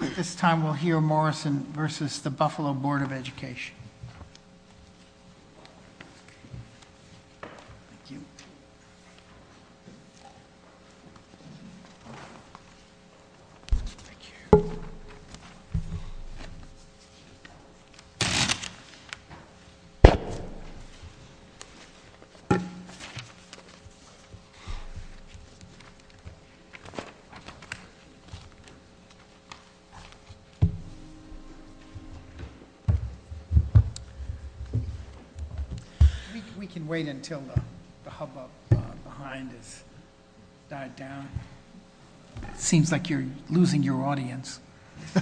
At this time we'll hear Morrison v. The Buffalo Board of Education. Thank you. Thank you. We can wait until the hubbub behind has died down. It seems like you're losing your audience. I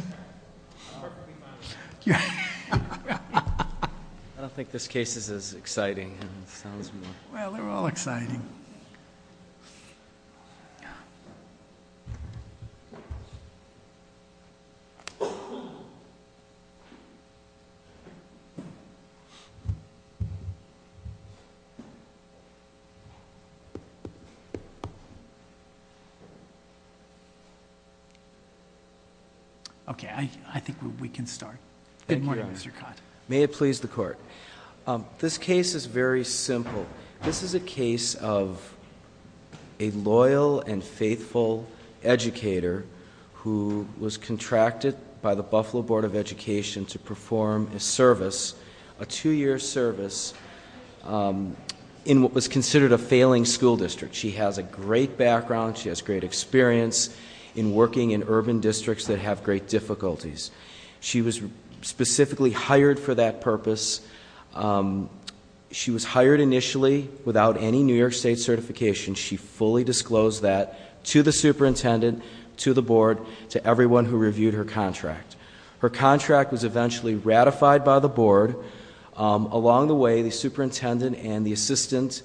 don't think this case is as exciting as it sounds. Well, they're all exciting. Okay, I think we can start. Good morning, Mr. Cott. May it please the court. This case is very simple. This is a case of a loyal and faithful educator who was contracted by the Buffalo Board of Education to perform a service, a two-year service, in what was considered a failing school district. She has a great background. She has great experience in working in urban districts that have great difficulties. She was specifically hired for that purpose. She was hired initially without any New York State certification. She fully disclosed that to the superintendent, to the board, to everyone who reviewed her contract. Her contract was eventually ratified by the board. Along the way, the superintendent and the assistant,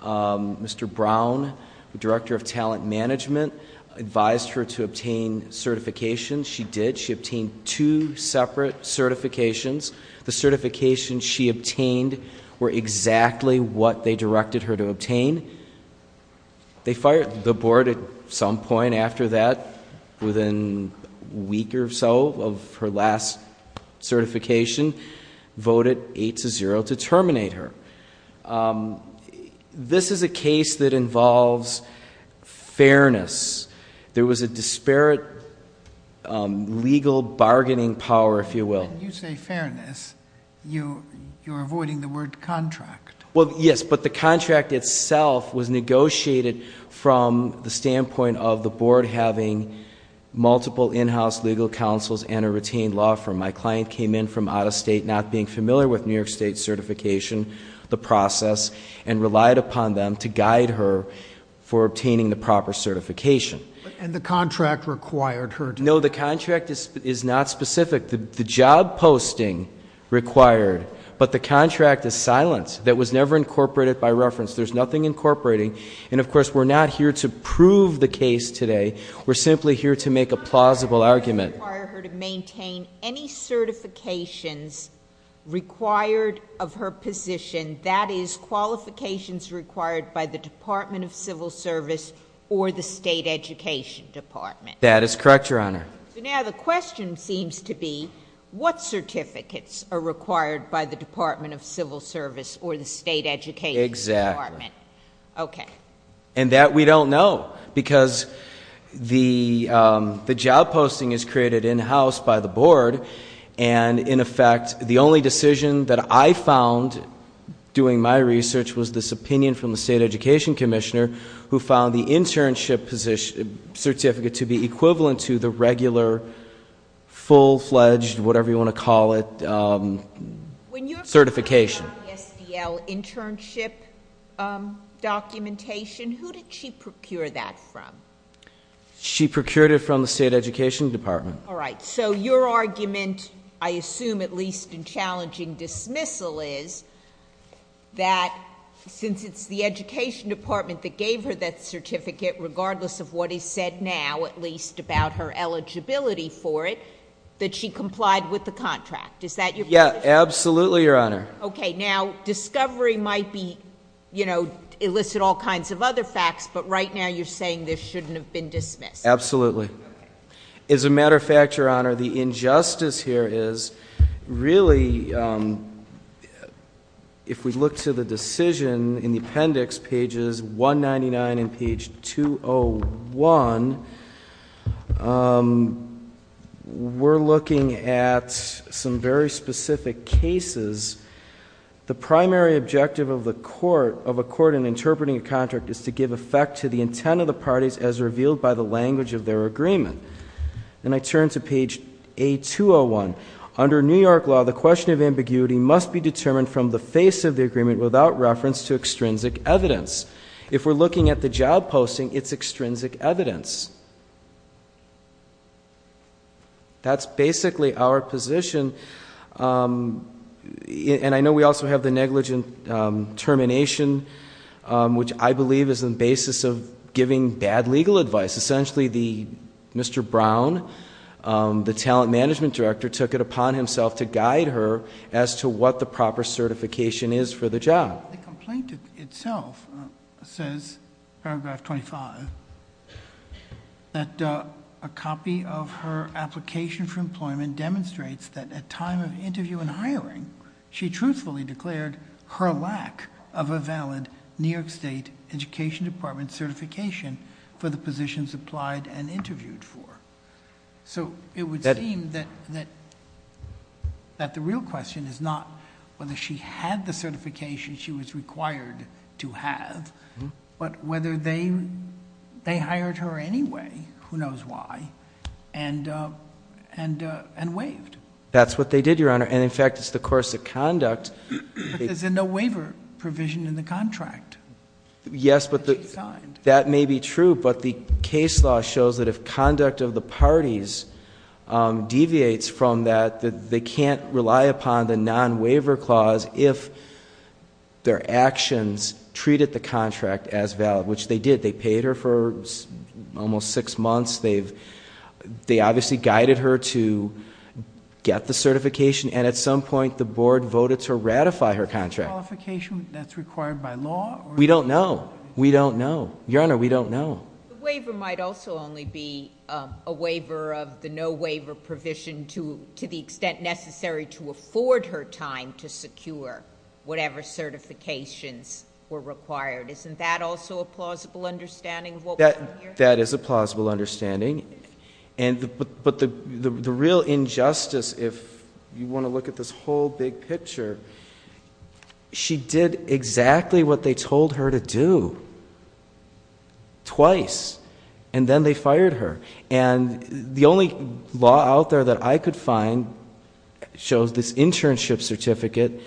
Mr. Brown, the director of talent management, advised her to obtain certification. She did. She obtained two separate certifications. The certifications she obtained were exactly what they directed her to obtain. They fired the board at some point after that. Within a week or so of her last certification, voted 8-0 to terminate her. This is a case that involves fairness. There was a disparate legal bargaining power, if you will. When you say fairness, you're avoiding the word contract. Well, yes, but the contract itself was negotiated from the standpoint of the board having multiple in-house legal counsels and a retained law firm. My client came in from out of state, not being familiar with New York State certification, the process, and relied upon them to guide her for obtaining the proper certification. And the contract required her to- No, the contract is not specific. The job posting required. But the contract is silent. That was never incorporated by reference. There's nothing incorporating. And, of course, we're not here to prove the case today. We're simply here to make a plausible argument. It doesn't require her to maintain any certifications required of her position. That is qualifications required by the Department of Civil Service or the State Education Department. That is correct, Your Honor. So now the question seems to be, what certificates are required by the Department of Civil Service or the State Education Department? Exactly. Okay. And that we don't know because the job posting is created in-house by the board, and, in effect, the only decision that I found doing my research was this opinion from the State Education Commissioner who found the internship certificate to be equivalent to the regular, full-fledged, whatever you want to call it, certification. When you're talking about the SDL internship documentation, who did she procure that from? She procured it from the State Education Department. All right. So your argument, I assume at least in challenging dismissal, is that since it's the Education Department that gave her that certificate, regardless of what is said now, at least about her eligibility for it, that she complied with the contract. Is that your position? Yes, absolutely, Your Honor. Okay. Now, discovery might elicit all kinds of other facts, but right now you're saying this shouldn't have been dismissed. Absolutely. As a matter of fact, Your Honor, the injustice here is really, if we look to the decision in the appendix, pages 199 and page 201, we're looking at some very specific cases. The primary objective of a court in interpreting a contract is to give effect to the intent of the parties as revealed by the language of their agreement. And I turn to page A201. Under New York law, the question of ambiguity must be determined from the face of the agreement without reference to extrinsic evidence. If we're looking at the job posting, it's extrinsic evidence. That's basically our position. And I know we also have the negligent termination, which I believe is the basis of giving bad legal advice. Essentially, Mr. Brown, the talent management director, took it upon himself to guide her as to what the proper certification is for the job. The complaint itself says, paragraph 25, that a copy of her application for employment demonstrates that at time of interview and hiring, she truthfully declared her lack of a valid New York State Education Department certification for the positions applied and interviewed for. So it would seem that the real question is not whether she had the certification she was required to have, but whether they hired her anyway, who knows why, and waived. That's what they did, Your Honor. And in fact, it's the course of conduct. But there's a no waiver provision in the contract. Yes, but that may be true. But the case law shows that if conduct of the parties deviates from that, they can't rely upon the non-waiver clause if their actions treated the contract as valid, which they did. They paid her for almost six months. They obviously guided her to get the certification, and at some point, the board voted to ratify her contract. Qualification that's required by law? We don't know. We don't know. Your Honor, we don't know. The waiver might also only be a waiver of the no waiver provision to the extent necessary to afford her time to secure whatever certifications were required. Isn't that also a plausible understanding of what we're hearing? That is a plausible understanding. But the real injustice, if you want to look at this whole big picture, she did exactly what they told her to do, twice. And then they fired her. And the only law out there that I could find shows this internship certificate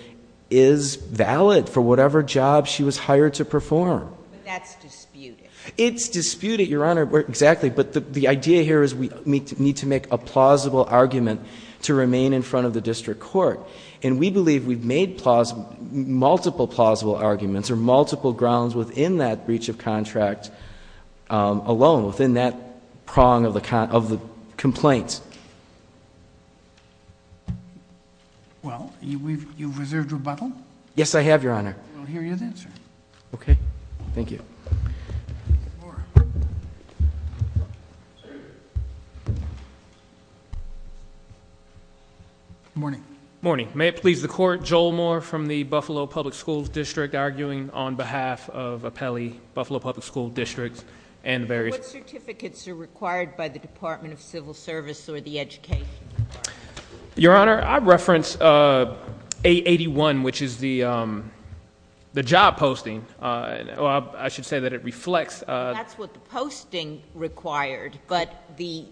is valid for whatever job she was hired to perform. But that's disputed. It's disputed, Your Honor. Exactly. But the idea here is we need to make a plausible argument to remain in front of the district court. And we believe we've made multiple plausible arguments or multiple grounds within that breach of contract alone, within that prong of the complaint. Well, you've reserved rebuttal? Yes, I have, Your Honor. We'll hear you then, sir. Okay. Thank you. Mr. Moore. Morning. Morning. May it please the court, Joel Moore from the Buffalo Public Schools District, arguing on behalf of Appelli, Buffalo Public School District, and various- What certificates are required by the Department of Civil Service or the Education Department? Your Honor, I reference 881, which is the job posting. I should say that it reflects- That's what the posting required, but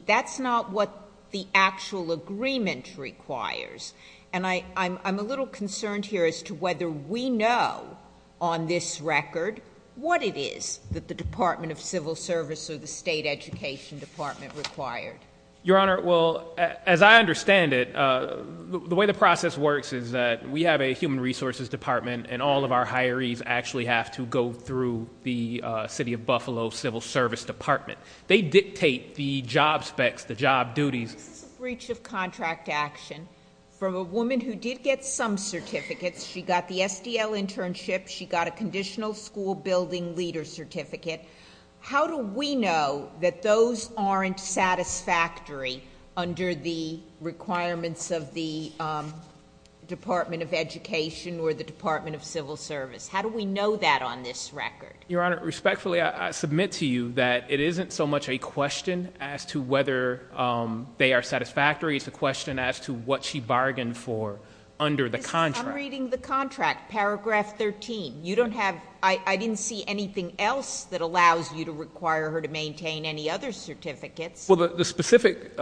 that's not what the actual agreement requires. And I'm a little concerned here as to whether we know on this record what it is that the Department of Civil Service or the State Education Department required. Your Honor, well, as I understand it, the way the process works is that we have a human resources department, and all of our hirees actually have to go through the city of Buffalo Civil Service Department. They dictate the job specs, the job duties. This is a breach of contract action from a woman who did get some certificates. She got the SDL internship. She got a conditional school building leader certificate. How do we know that those aren't satisfactory under the requirements of the Department of Education or the Department of Civil Service? How do we know that on this record? Your Honor, respectfully, I submit to you that it isn't so much a question as to whether they are satisfactory. It's a question as to what she bargained for under the contract. I'm reading the contract, paragraph 13. I didn't see anything else that allows you to require her to maintain any other certificates. Well, the specific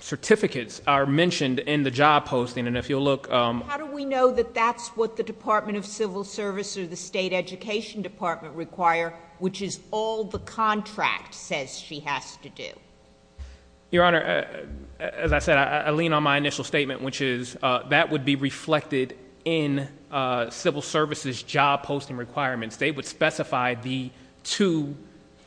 certificates are mentioned in the job posting, and if you'll look— How do we know that that's what the Department of Civil Service or the State Education Department require, which is all the contract says she has to do? Your Honor, as I said, I lean on my initial statement, which is that would be reflected in civil service's job posting requirements. They would specify the two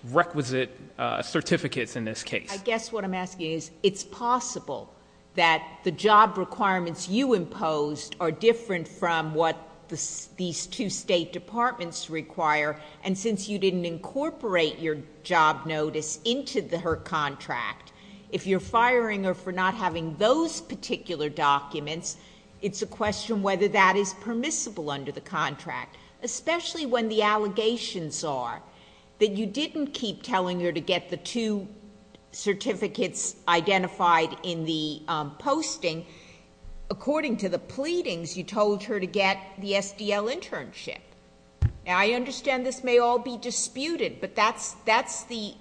requisite certificates in this case. I guess what I'm asking is, it's possible that the job requirements you imposed are different from what these two state departments require, and since you didn't incorporate your job notice into her contract, if you're firing her for not having those particular documents, it's a question whether that is permissible under the contract, especially when the allegations are that you didn't keep telling her to get the two certificates identified in the posting. According to the pleadings, you told her to get the SDL internship. Now, I understand this may all be disputed, but that's the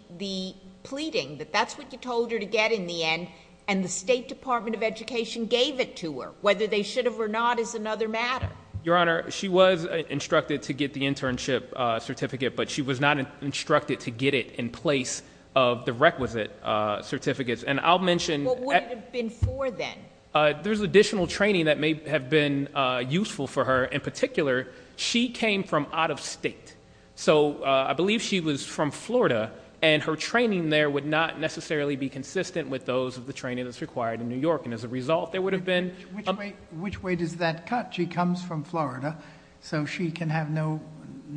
pleading, that that's what you told her to get in the end, and the State Department of Education gave it to her. Whether they should have or not is another matter. Your Honor, she was instructed to get the internship certificate, but she was not instructed to get it in place of the requisite certificates, and I'll mention— What would it have been for then? There's additional training that may have been useful for her. In particular, she came from out of state, so I believe she was from Florida, and her training there would not necessarily be consistent with those of the training that's required in New York, and as a result, there would have been— Which way does that cut? She comes from Florida, so she can have no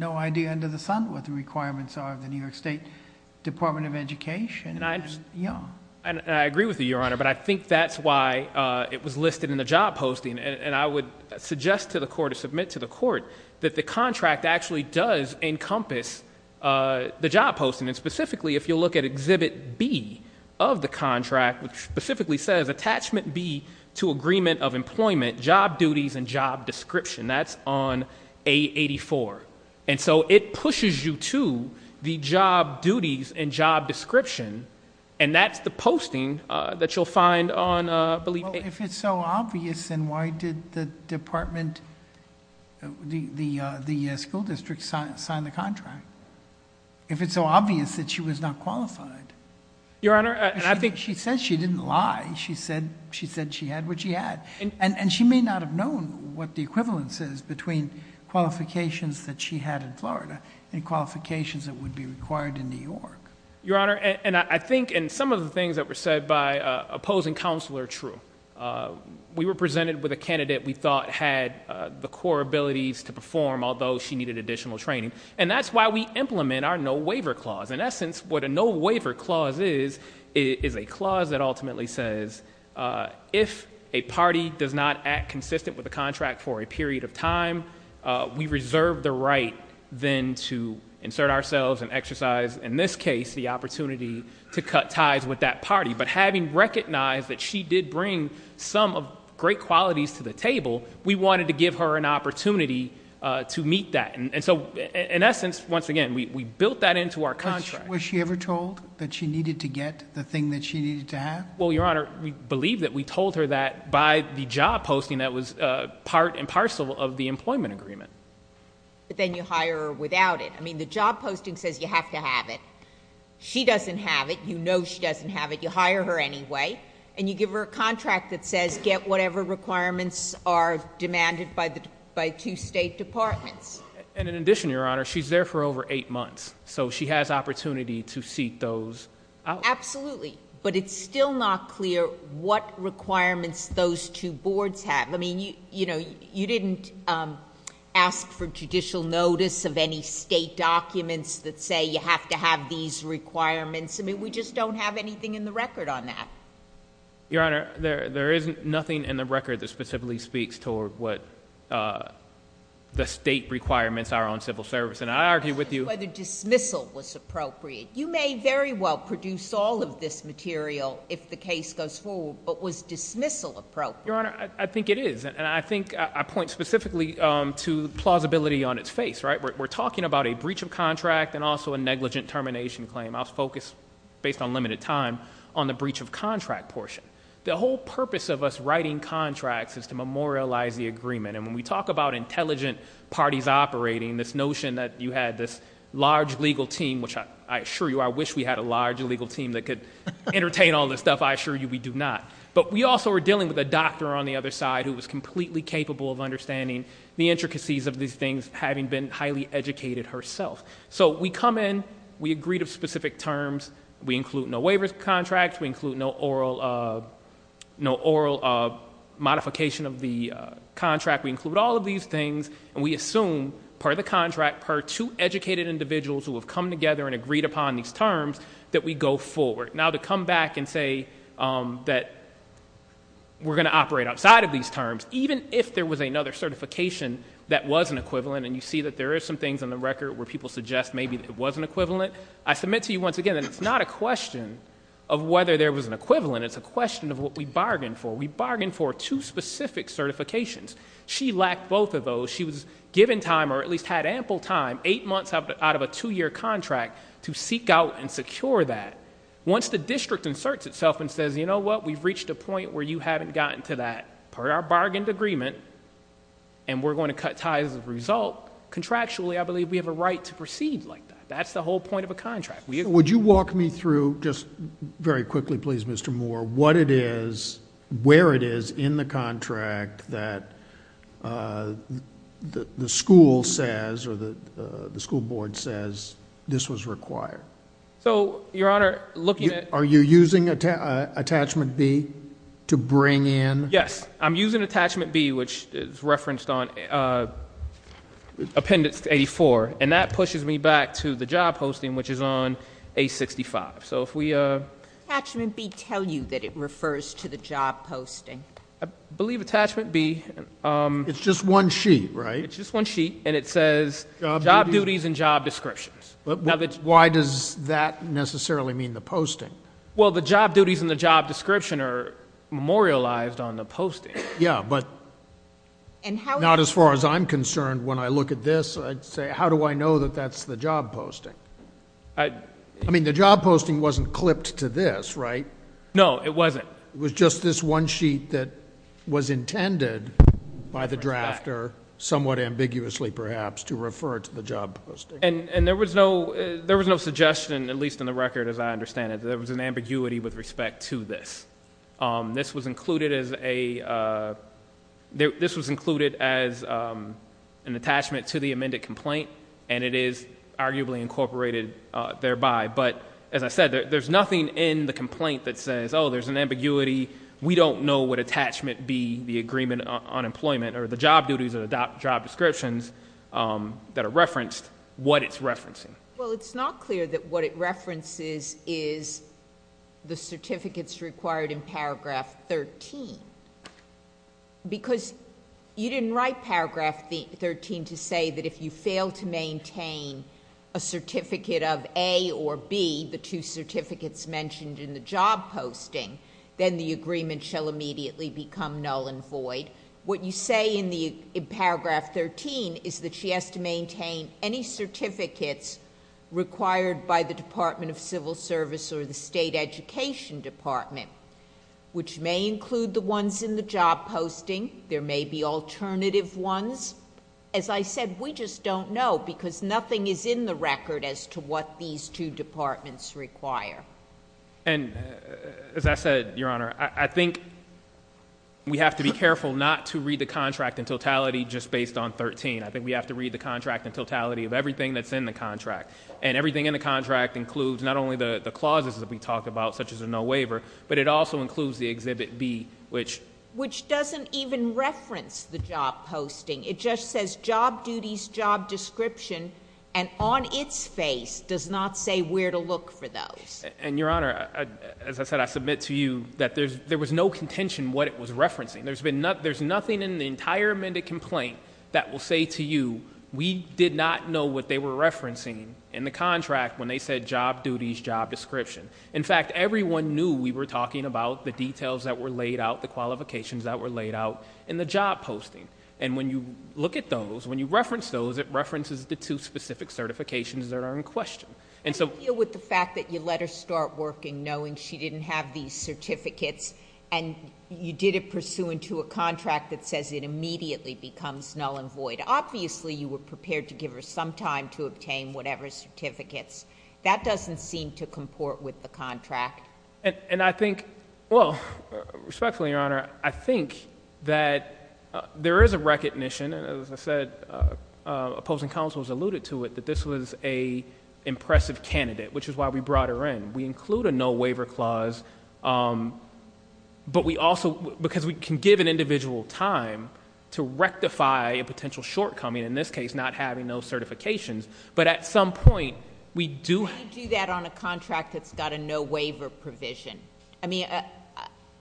idea under the sun what the requirements are of the New York State Department of Education? I agree with you, Your Honor, but I think that's why it was listed in the job posting, and I would suggest to the court or submit to the court that the contract actually does encompass the job posting, and specifically, if you look at Exhibit B of the contract, which specifically says, Attachment B to Agreement of Employment, Job Duties and Job Description. That's on A84, and so it pushes you to the job duties and job description, and that's the posting that you'll find on, I believe— Well, if it's so obvious, then why did the school district sign the contract if it's so obvious that she was not qualified? Your Honor, I think— She said she didn't lie. She said she had what she had, and she may not have known what the equivalence is between qualifications that she had in Florida and qualifications that would be required in New York. Your Honor, I think some of the things that were said by opposing counsel are true. We were presented with a candidate we thought had the core abilities to perform, although she needed additional training, and that's why we implement our no-waiver clause. In essence, what a no-waiver clause is is a clause that ultimately says, if a party does not act consistent with the contract for a period of time, we reserve the right then to insert ourselves and exercise, in this case, the opportunity to cut ties with that party. But having recognized that she did bring some great qualities to the table, we wanted to give her an opportunity to meet that. And so, in essence, once again, we built that into our contract. Was she ever told that she needed to get the thing that she needed to have? Well, Your Honor, we believe that we told her that by the job posting that was part and parcel of the employment agreement. But then you hire her without it. I mean, the job posting says you have to have it. She doesn't have it. You know she doesn't have it. You hire her anyway, and you give her a contract that says get whatever requirements are demanded by two state departments. And in addition, Your Honor, she's there for over eight months, so she has opportunity to seek those out. Absolutely. But it's still not clear what requirements those two boards have. I mean, you didn't ask for judicial notice of any state documents that say you have to have these requirements. I mean, we just don't have anything in the record on that. Your Honor, there is nothing in the record that specifically speaks toward what the state requirements are on civil service. And I argue with you— Whether dismissal was appropriate. You may very well produce all of this material if the case goes forward, but was dismissal appropriate? Your Honor, I think it is. And I think I point specifically to plausibility on its face, right? We're talking about a breach of contract and also a negligent termination claim. I'll focus, based on limited time, on the breach of contract portion. The whole purpose of us writing contracts is to memorialize the agreement. And when we talk about intelligent parties operating, this notion that you had this large legal team, which I assure you, I wish we had a large legal team that could entertain all this stuff. I assure you we do not. But we also were dealing with a doctor on the other side who was completely capable of understanding the intricacies of these things, having been highly educated herself. So we come in, we agree to specific terms, we include no waiver contracts, we include no oral modification of the contract, we include all of these things, and we assume, per the contract, per two educated individuals who have come together and agreed upon these terms, that we go forward. Now, to come back and say that we're going to operate outside of these terms, even if there was another certification that was an equivalent, and you see that there are some things in the record where people suggest maybe it was an equivalent, I submit to you once again that it's not a question of whether there was an equivalent, it's a question of what we bargained for. We bargained for two specific certifications. She lacked both of those. She was given time, or at least had ample time, eight months out of a two-year contract to seek out and secure that. Once the district inserts itself and says, you know what, we've reached a point where you haven't gotten to that, per our bargained agreement, and we're going to cut ties as a result, contractually I believe we have a right to proceed like that. That's the whole point of a contract. Would you walk me through, just very quickly please, Mr. Moore, what it is, where it is in the contract that the school says or the school board says this was required? So, Your Honor, looking at Are you using attachment B to bring in Yes, I'm using attachment B, which is referenced on appendix 84, and that pushes me back to the job posting, which is on A65. So if we Does attachment B tell you that it refers to the job posting? I believe attachment B It's just one sheet, right? It's just one sheet, and it says job duties and job descriptions. Why does that necessarily mean the posting? Yeah, but not as far as I'm concerned. When I look at this, I'd say how do I know that that's the job posting? I mean, the job posting wasn't clipped to this, right? No, it wasn't. It was just this one sheet that was intended by the drafter, somewhat ambiguously perhaps, to refer to the job posting. And there was no suggestion, at least in the record as I understand it, that there was an ambiguity with respect to this. This was included as an attachment to the amended complaint, and it is arguably incorporated thereby. But as I said, there's nothing in the complaint that says, oh, there's an ambiguity. We don't know what attachment B, the agreement on employment, or the job duties and job descriptions that are referenced, what it's referencing. Well, it's not clear that what it references is the certificates required in Paragraph 13. Because you didn't write Paragraph 13 to say that if you fail to maintain a certificate of A or B, the two certificates mentioned in the job posting, then the agreement shall immediately become null and void. What you say in Paragraph 13 is that she has to maintain any certificates required by the Department of Civil Service or the State Education Department, which may include the ones in the job posting. There may be alternative ones. As I said, we just don't know because nothing is in the record as to what these two departments require. And as I said, Your Honor, I think we have to be careful not to read the contract in totality just based on 13. I think we have to read the contract in totality of everything that's in the contract. And everything in the contract includes not only the clauses that we talked about, such as a no waiver, but it also includes the Exhibit B. Which doesn't even reference the job posting. It just says job duties, job description, and on its face does not say where to look for those. And, Your Honor, as I said, I submit to you that there was no contention what it was referencing. There's nothing in the entire amended complaint that will say to you, we did not know what they were referencing in the contract when they said job duties, job description. In fact, everyone knew we were talking about the details that were laid out, the qualifications that were laid out in the job posting. And when you look at those, when you reference those, it references the two specific certifications that are in question. I feel with the fact that you let her start working knowing she didn't have these certificates and you did it pursuant to a contract that says it immediately becomes null and void. Obviously, you were prepared to give her some time to obtain whatever certificates. That doesn't seem to comport with the contract. And I think, well, respectfully, Your Honor, I think that there is a recognition, as I said, opposing counsels alluded to it, that this was an impressive candidate, which is why we brought her in. We include a no-waiver clause, but we also, because we can give an individual time to rectify a potential shortcoming, in this case not having those certifications. But at some point, we do. How do you do that on a contract that's got a no-waiver provision? I mean,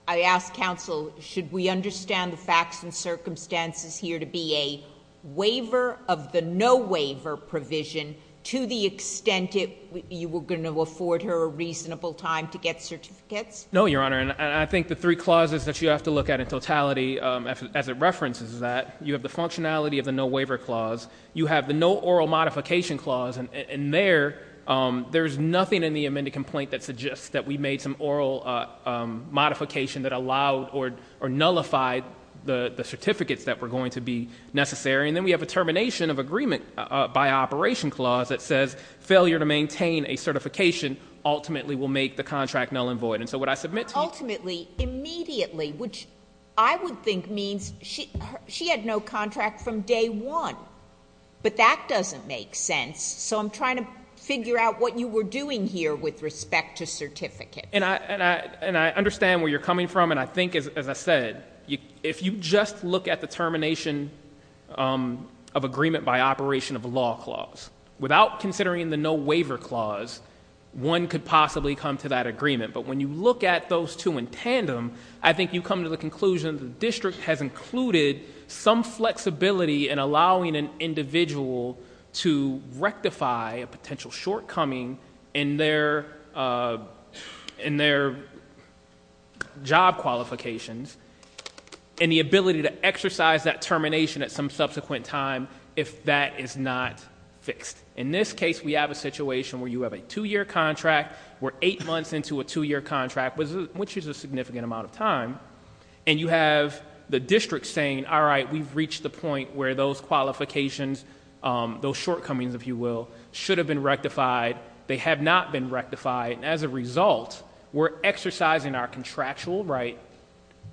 I ask counsel, should we understand the facts and circumstances here to be a waiver of the no-waiver provision to the extent you were going to afford her reasonable time to get certificates? No, Your Honor, and I think the three clauses that you have to look at in totality, as it references that, you have the functionality of the no-waiver clause, you have the no oral modification clause, and there's nothing in the amended complaint that suggests that we made some oral modification that allowed or nullified the certificates that were going to be necessary. And then we have a termination of agreement by operation clause that says failure to maintain a certification ultimately will make the contract null and void. Ultimately, immediately, which I would think means she had no contract from day one, but that doesn't make sense, so I'm trying to figure out what you were doing here with respect to certificate. And I understand where you're coming from, and I think, as I said, if you just look at the termination of agreement by operation of a law clause, without considering the no-waiver clause, one could possibly come to that agreement. But when you look at those two in tandem, I think you come to the conclusion the district has included some flexibility in allowing an individual to rectify a potential shortcoming in their job qualifications and the ability to exercise that termination at some subsequent time if that is not fixed. In this case, we have a situation where you have a two-year contract. We're eight months into a two-year contract, which is a significant amount of time, and you have the district saying, all right, we've reached the point where those qualifications, those shortcomings, if you will, should have been rectified. They have not been rectified. As a result, we're exercising our contractual right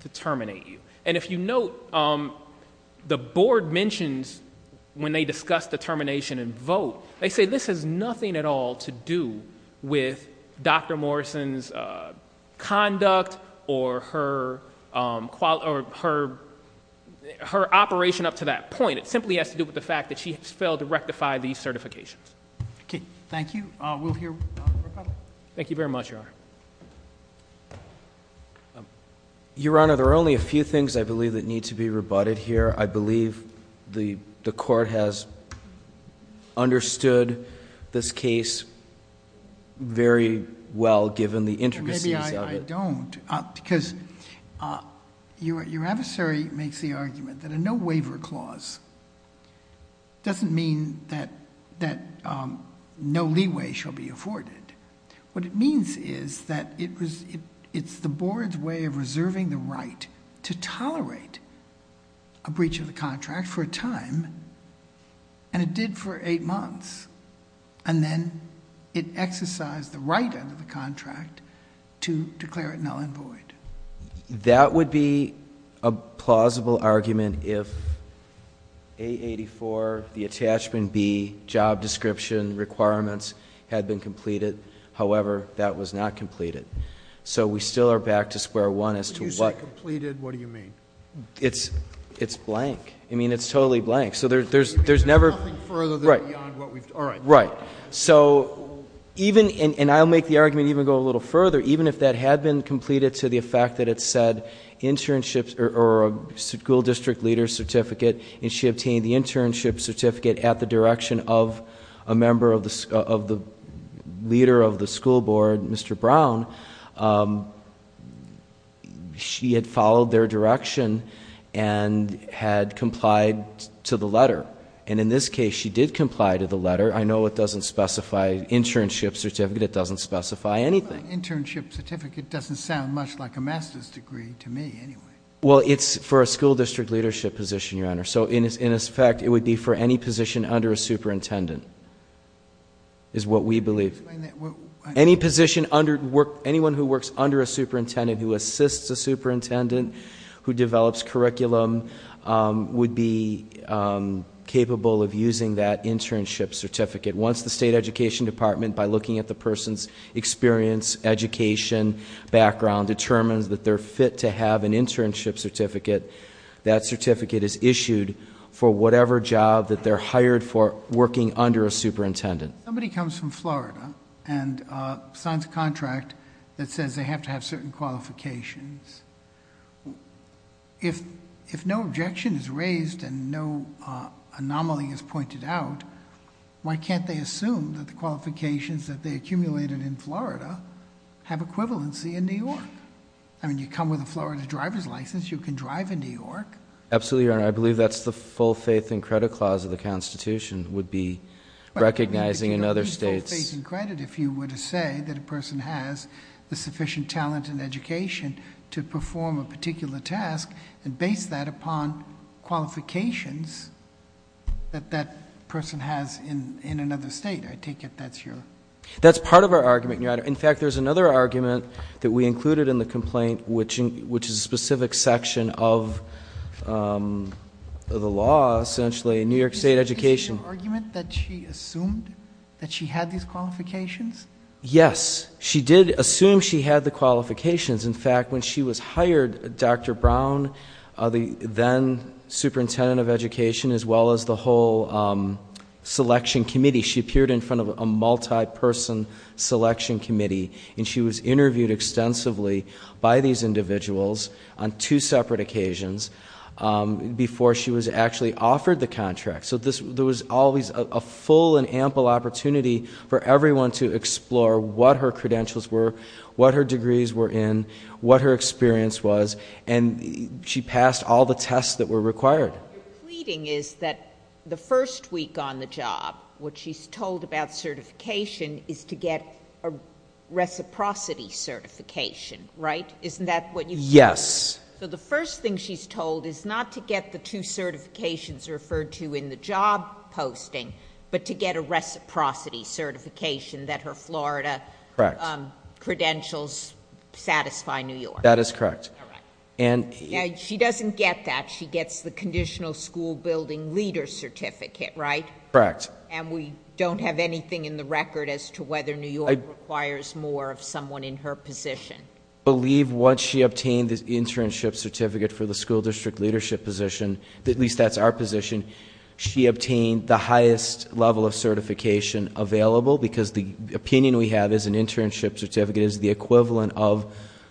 to terminate you. And if you note, the board mentions when they discuss the termination and vote, they say this has nothing at all to do with Dr. Morrison's conduct or her operation up to that point. It simply has to do with the fact that she has failed to rectify these certifications. Thank you. We'll hear from the rebuttal. Thank you very much, Your Honor. Your Honor, there are only a few things, I believe, that need to be rebutted here. I believe the court has understood this case very well, given the intricacies of it. Maybe I don't. Because your adversary makes the argument that a no-waiver clause doesn't mean that no leeway shall be afforded. What it means is that it's the board's way of reserving the right to tolerate a breach of the contract for a time, And it did for eight months. And then it exercised the right under the contract to declare it null and void. That would be a plausible argument if A-84, the attachment B, job description requirements had been completed. However, that was not completed. So we still are back to square one as to what- When you say completed, what do you mean? It's blank. I mean, it's totally blank. So there's never- There's nothing further than beyond what we've- Right. All right. Right. And I'll make the argument even go a little further. Even if that had been completed to the effect that it said internships or a school district leader's certificate, and she obtained the internship certificate at the direction of a member of the leader of the school board, Mr. Brown, she had followed their direction and had complied to the letter. And in this case, she did comply to the letter. I know it doesn't specify internship certificate. It doesn't specify anything. Internship certificate doesn't sound much like a master's degree to me anyway. Well, it's for a school district leadership position, Your Honor. So in effect, it would be for any position under a superintendent is what we believe. Any position, anyone who works under a superintendent, who assists a superintendent, who develops curriculum would be capable of using that internship certificate. Once the state education department, by looking at the person's experience, education, background, determines that they're fit to have an internship certificate, that certificate is issued for whatever job that they're hired for working under a superintendent. Somebody comes from Florida and signs a contract that says they have to have certain qualifications. If no objection is raised and no anomaly is pointed out, why can't they assume that the qualifications that they accumulated in Florida have equivalency in New York? I mean, you come with a Florida driver's license, you can drive in New York. Absolutely, Your Honor. I believe that's the full faith and credit clause of the Constitution would be recognizing in other states. Full faith and credit if you were to say that a person has the sufficient talent and education to perform a particular task and base that upon qualifications that that person has in another state. I take it that's your- That's part of our argument, Your Honor. In fact, there's another argument that we included in the complaint, which is a specific section of the law, essentially, in New York State Education. Is it your argument that she assumed that she had these qualifications? Yes. She did assume she had the qualifications. In fact, when she was hired, Dr. Brown, the then superintendent of education, as well as the whole selection committee, she appeared in front of a multi-person selection committee. And she was interviewed extensively by these individuals on two separate occasions before she was actually offered the contract. So there was always a full and ample opportunity for everyone to explore what her credentials were, what her degrees were in, what her experience was, and she passed all the tests that were required. Your pleading is that the first week on the job, what she's told about certification is to get a reciprocity certification, right? Isn't that what you- Yes. So the first thing she's told is not to get the two certifications referred to in the job posting, but to get a reciprocity certification that her Florida- Correct. Credentials satisfy New York. That is correct. All right. She doesn't get that. She gets the conditional school building leader certificate, right? Correct. And we don't have anything in the record as to whether New York requires more of someone in her position. I believe once she obtained the internship certificate for the school district leadership position, at least that's our position, she obtained the highest level of certification available, because the opinion we have is an internship certificate is the equivalent of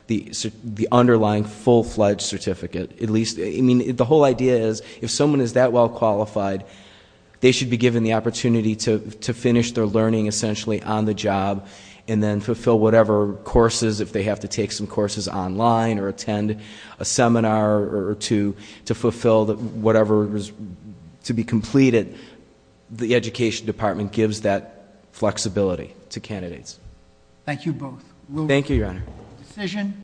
the underlying full-fledged certificate. I mean, the whole idea is if someone is that well qualified, they should be given the opportunity to finish their learning essentially on the job and then fulfill whatever courses if they have to take some courses online or attend a seminar or to fulfill whatever is to be completed. The education department gives that flexibility to candidates. Thank you both. Thank you, Your Honor.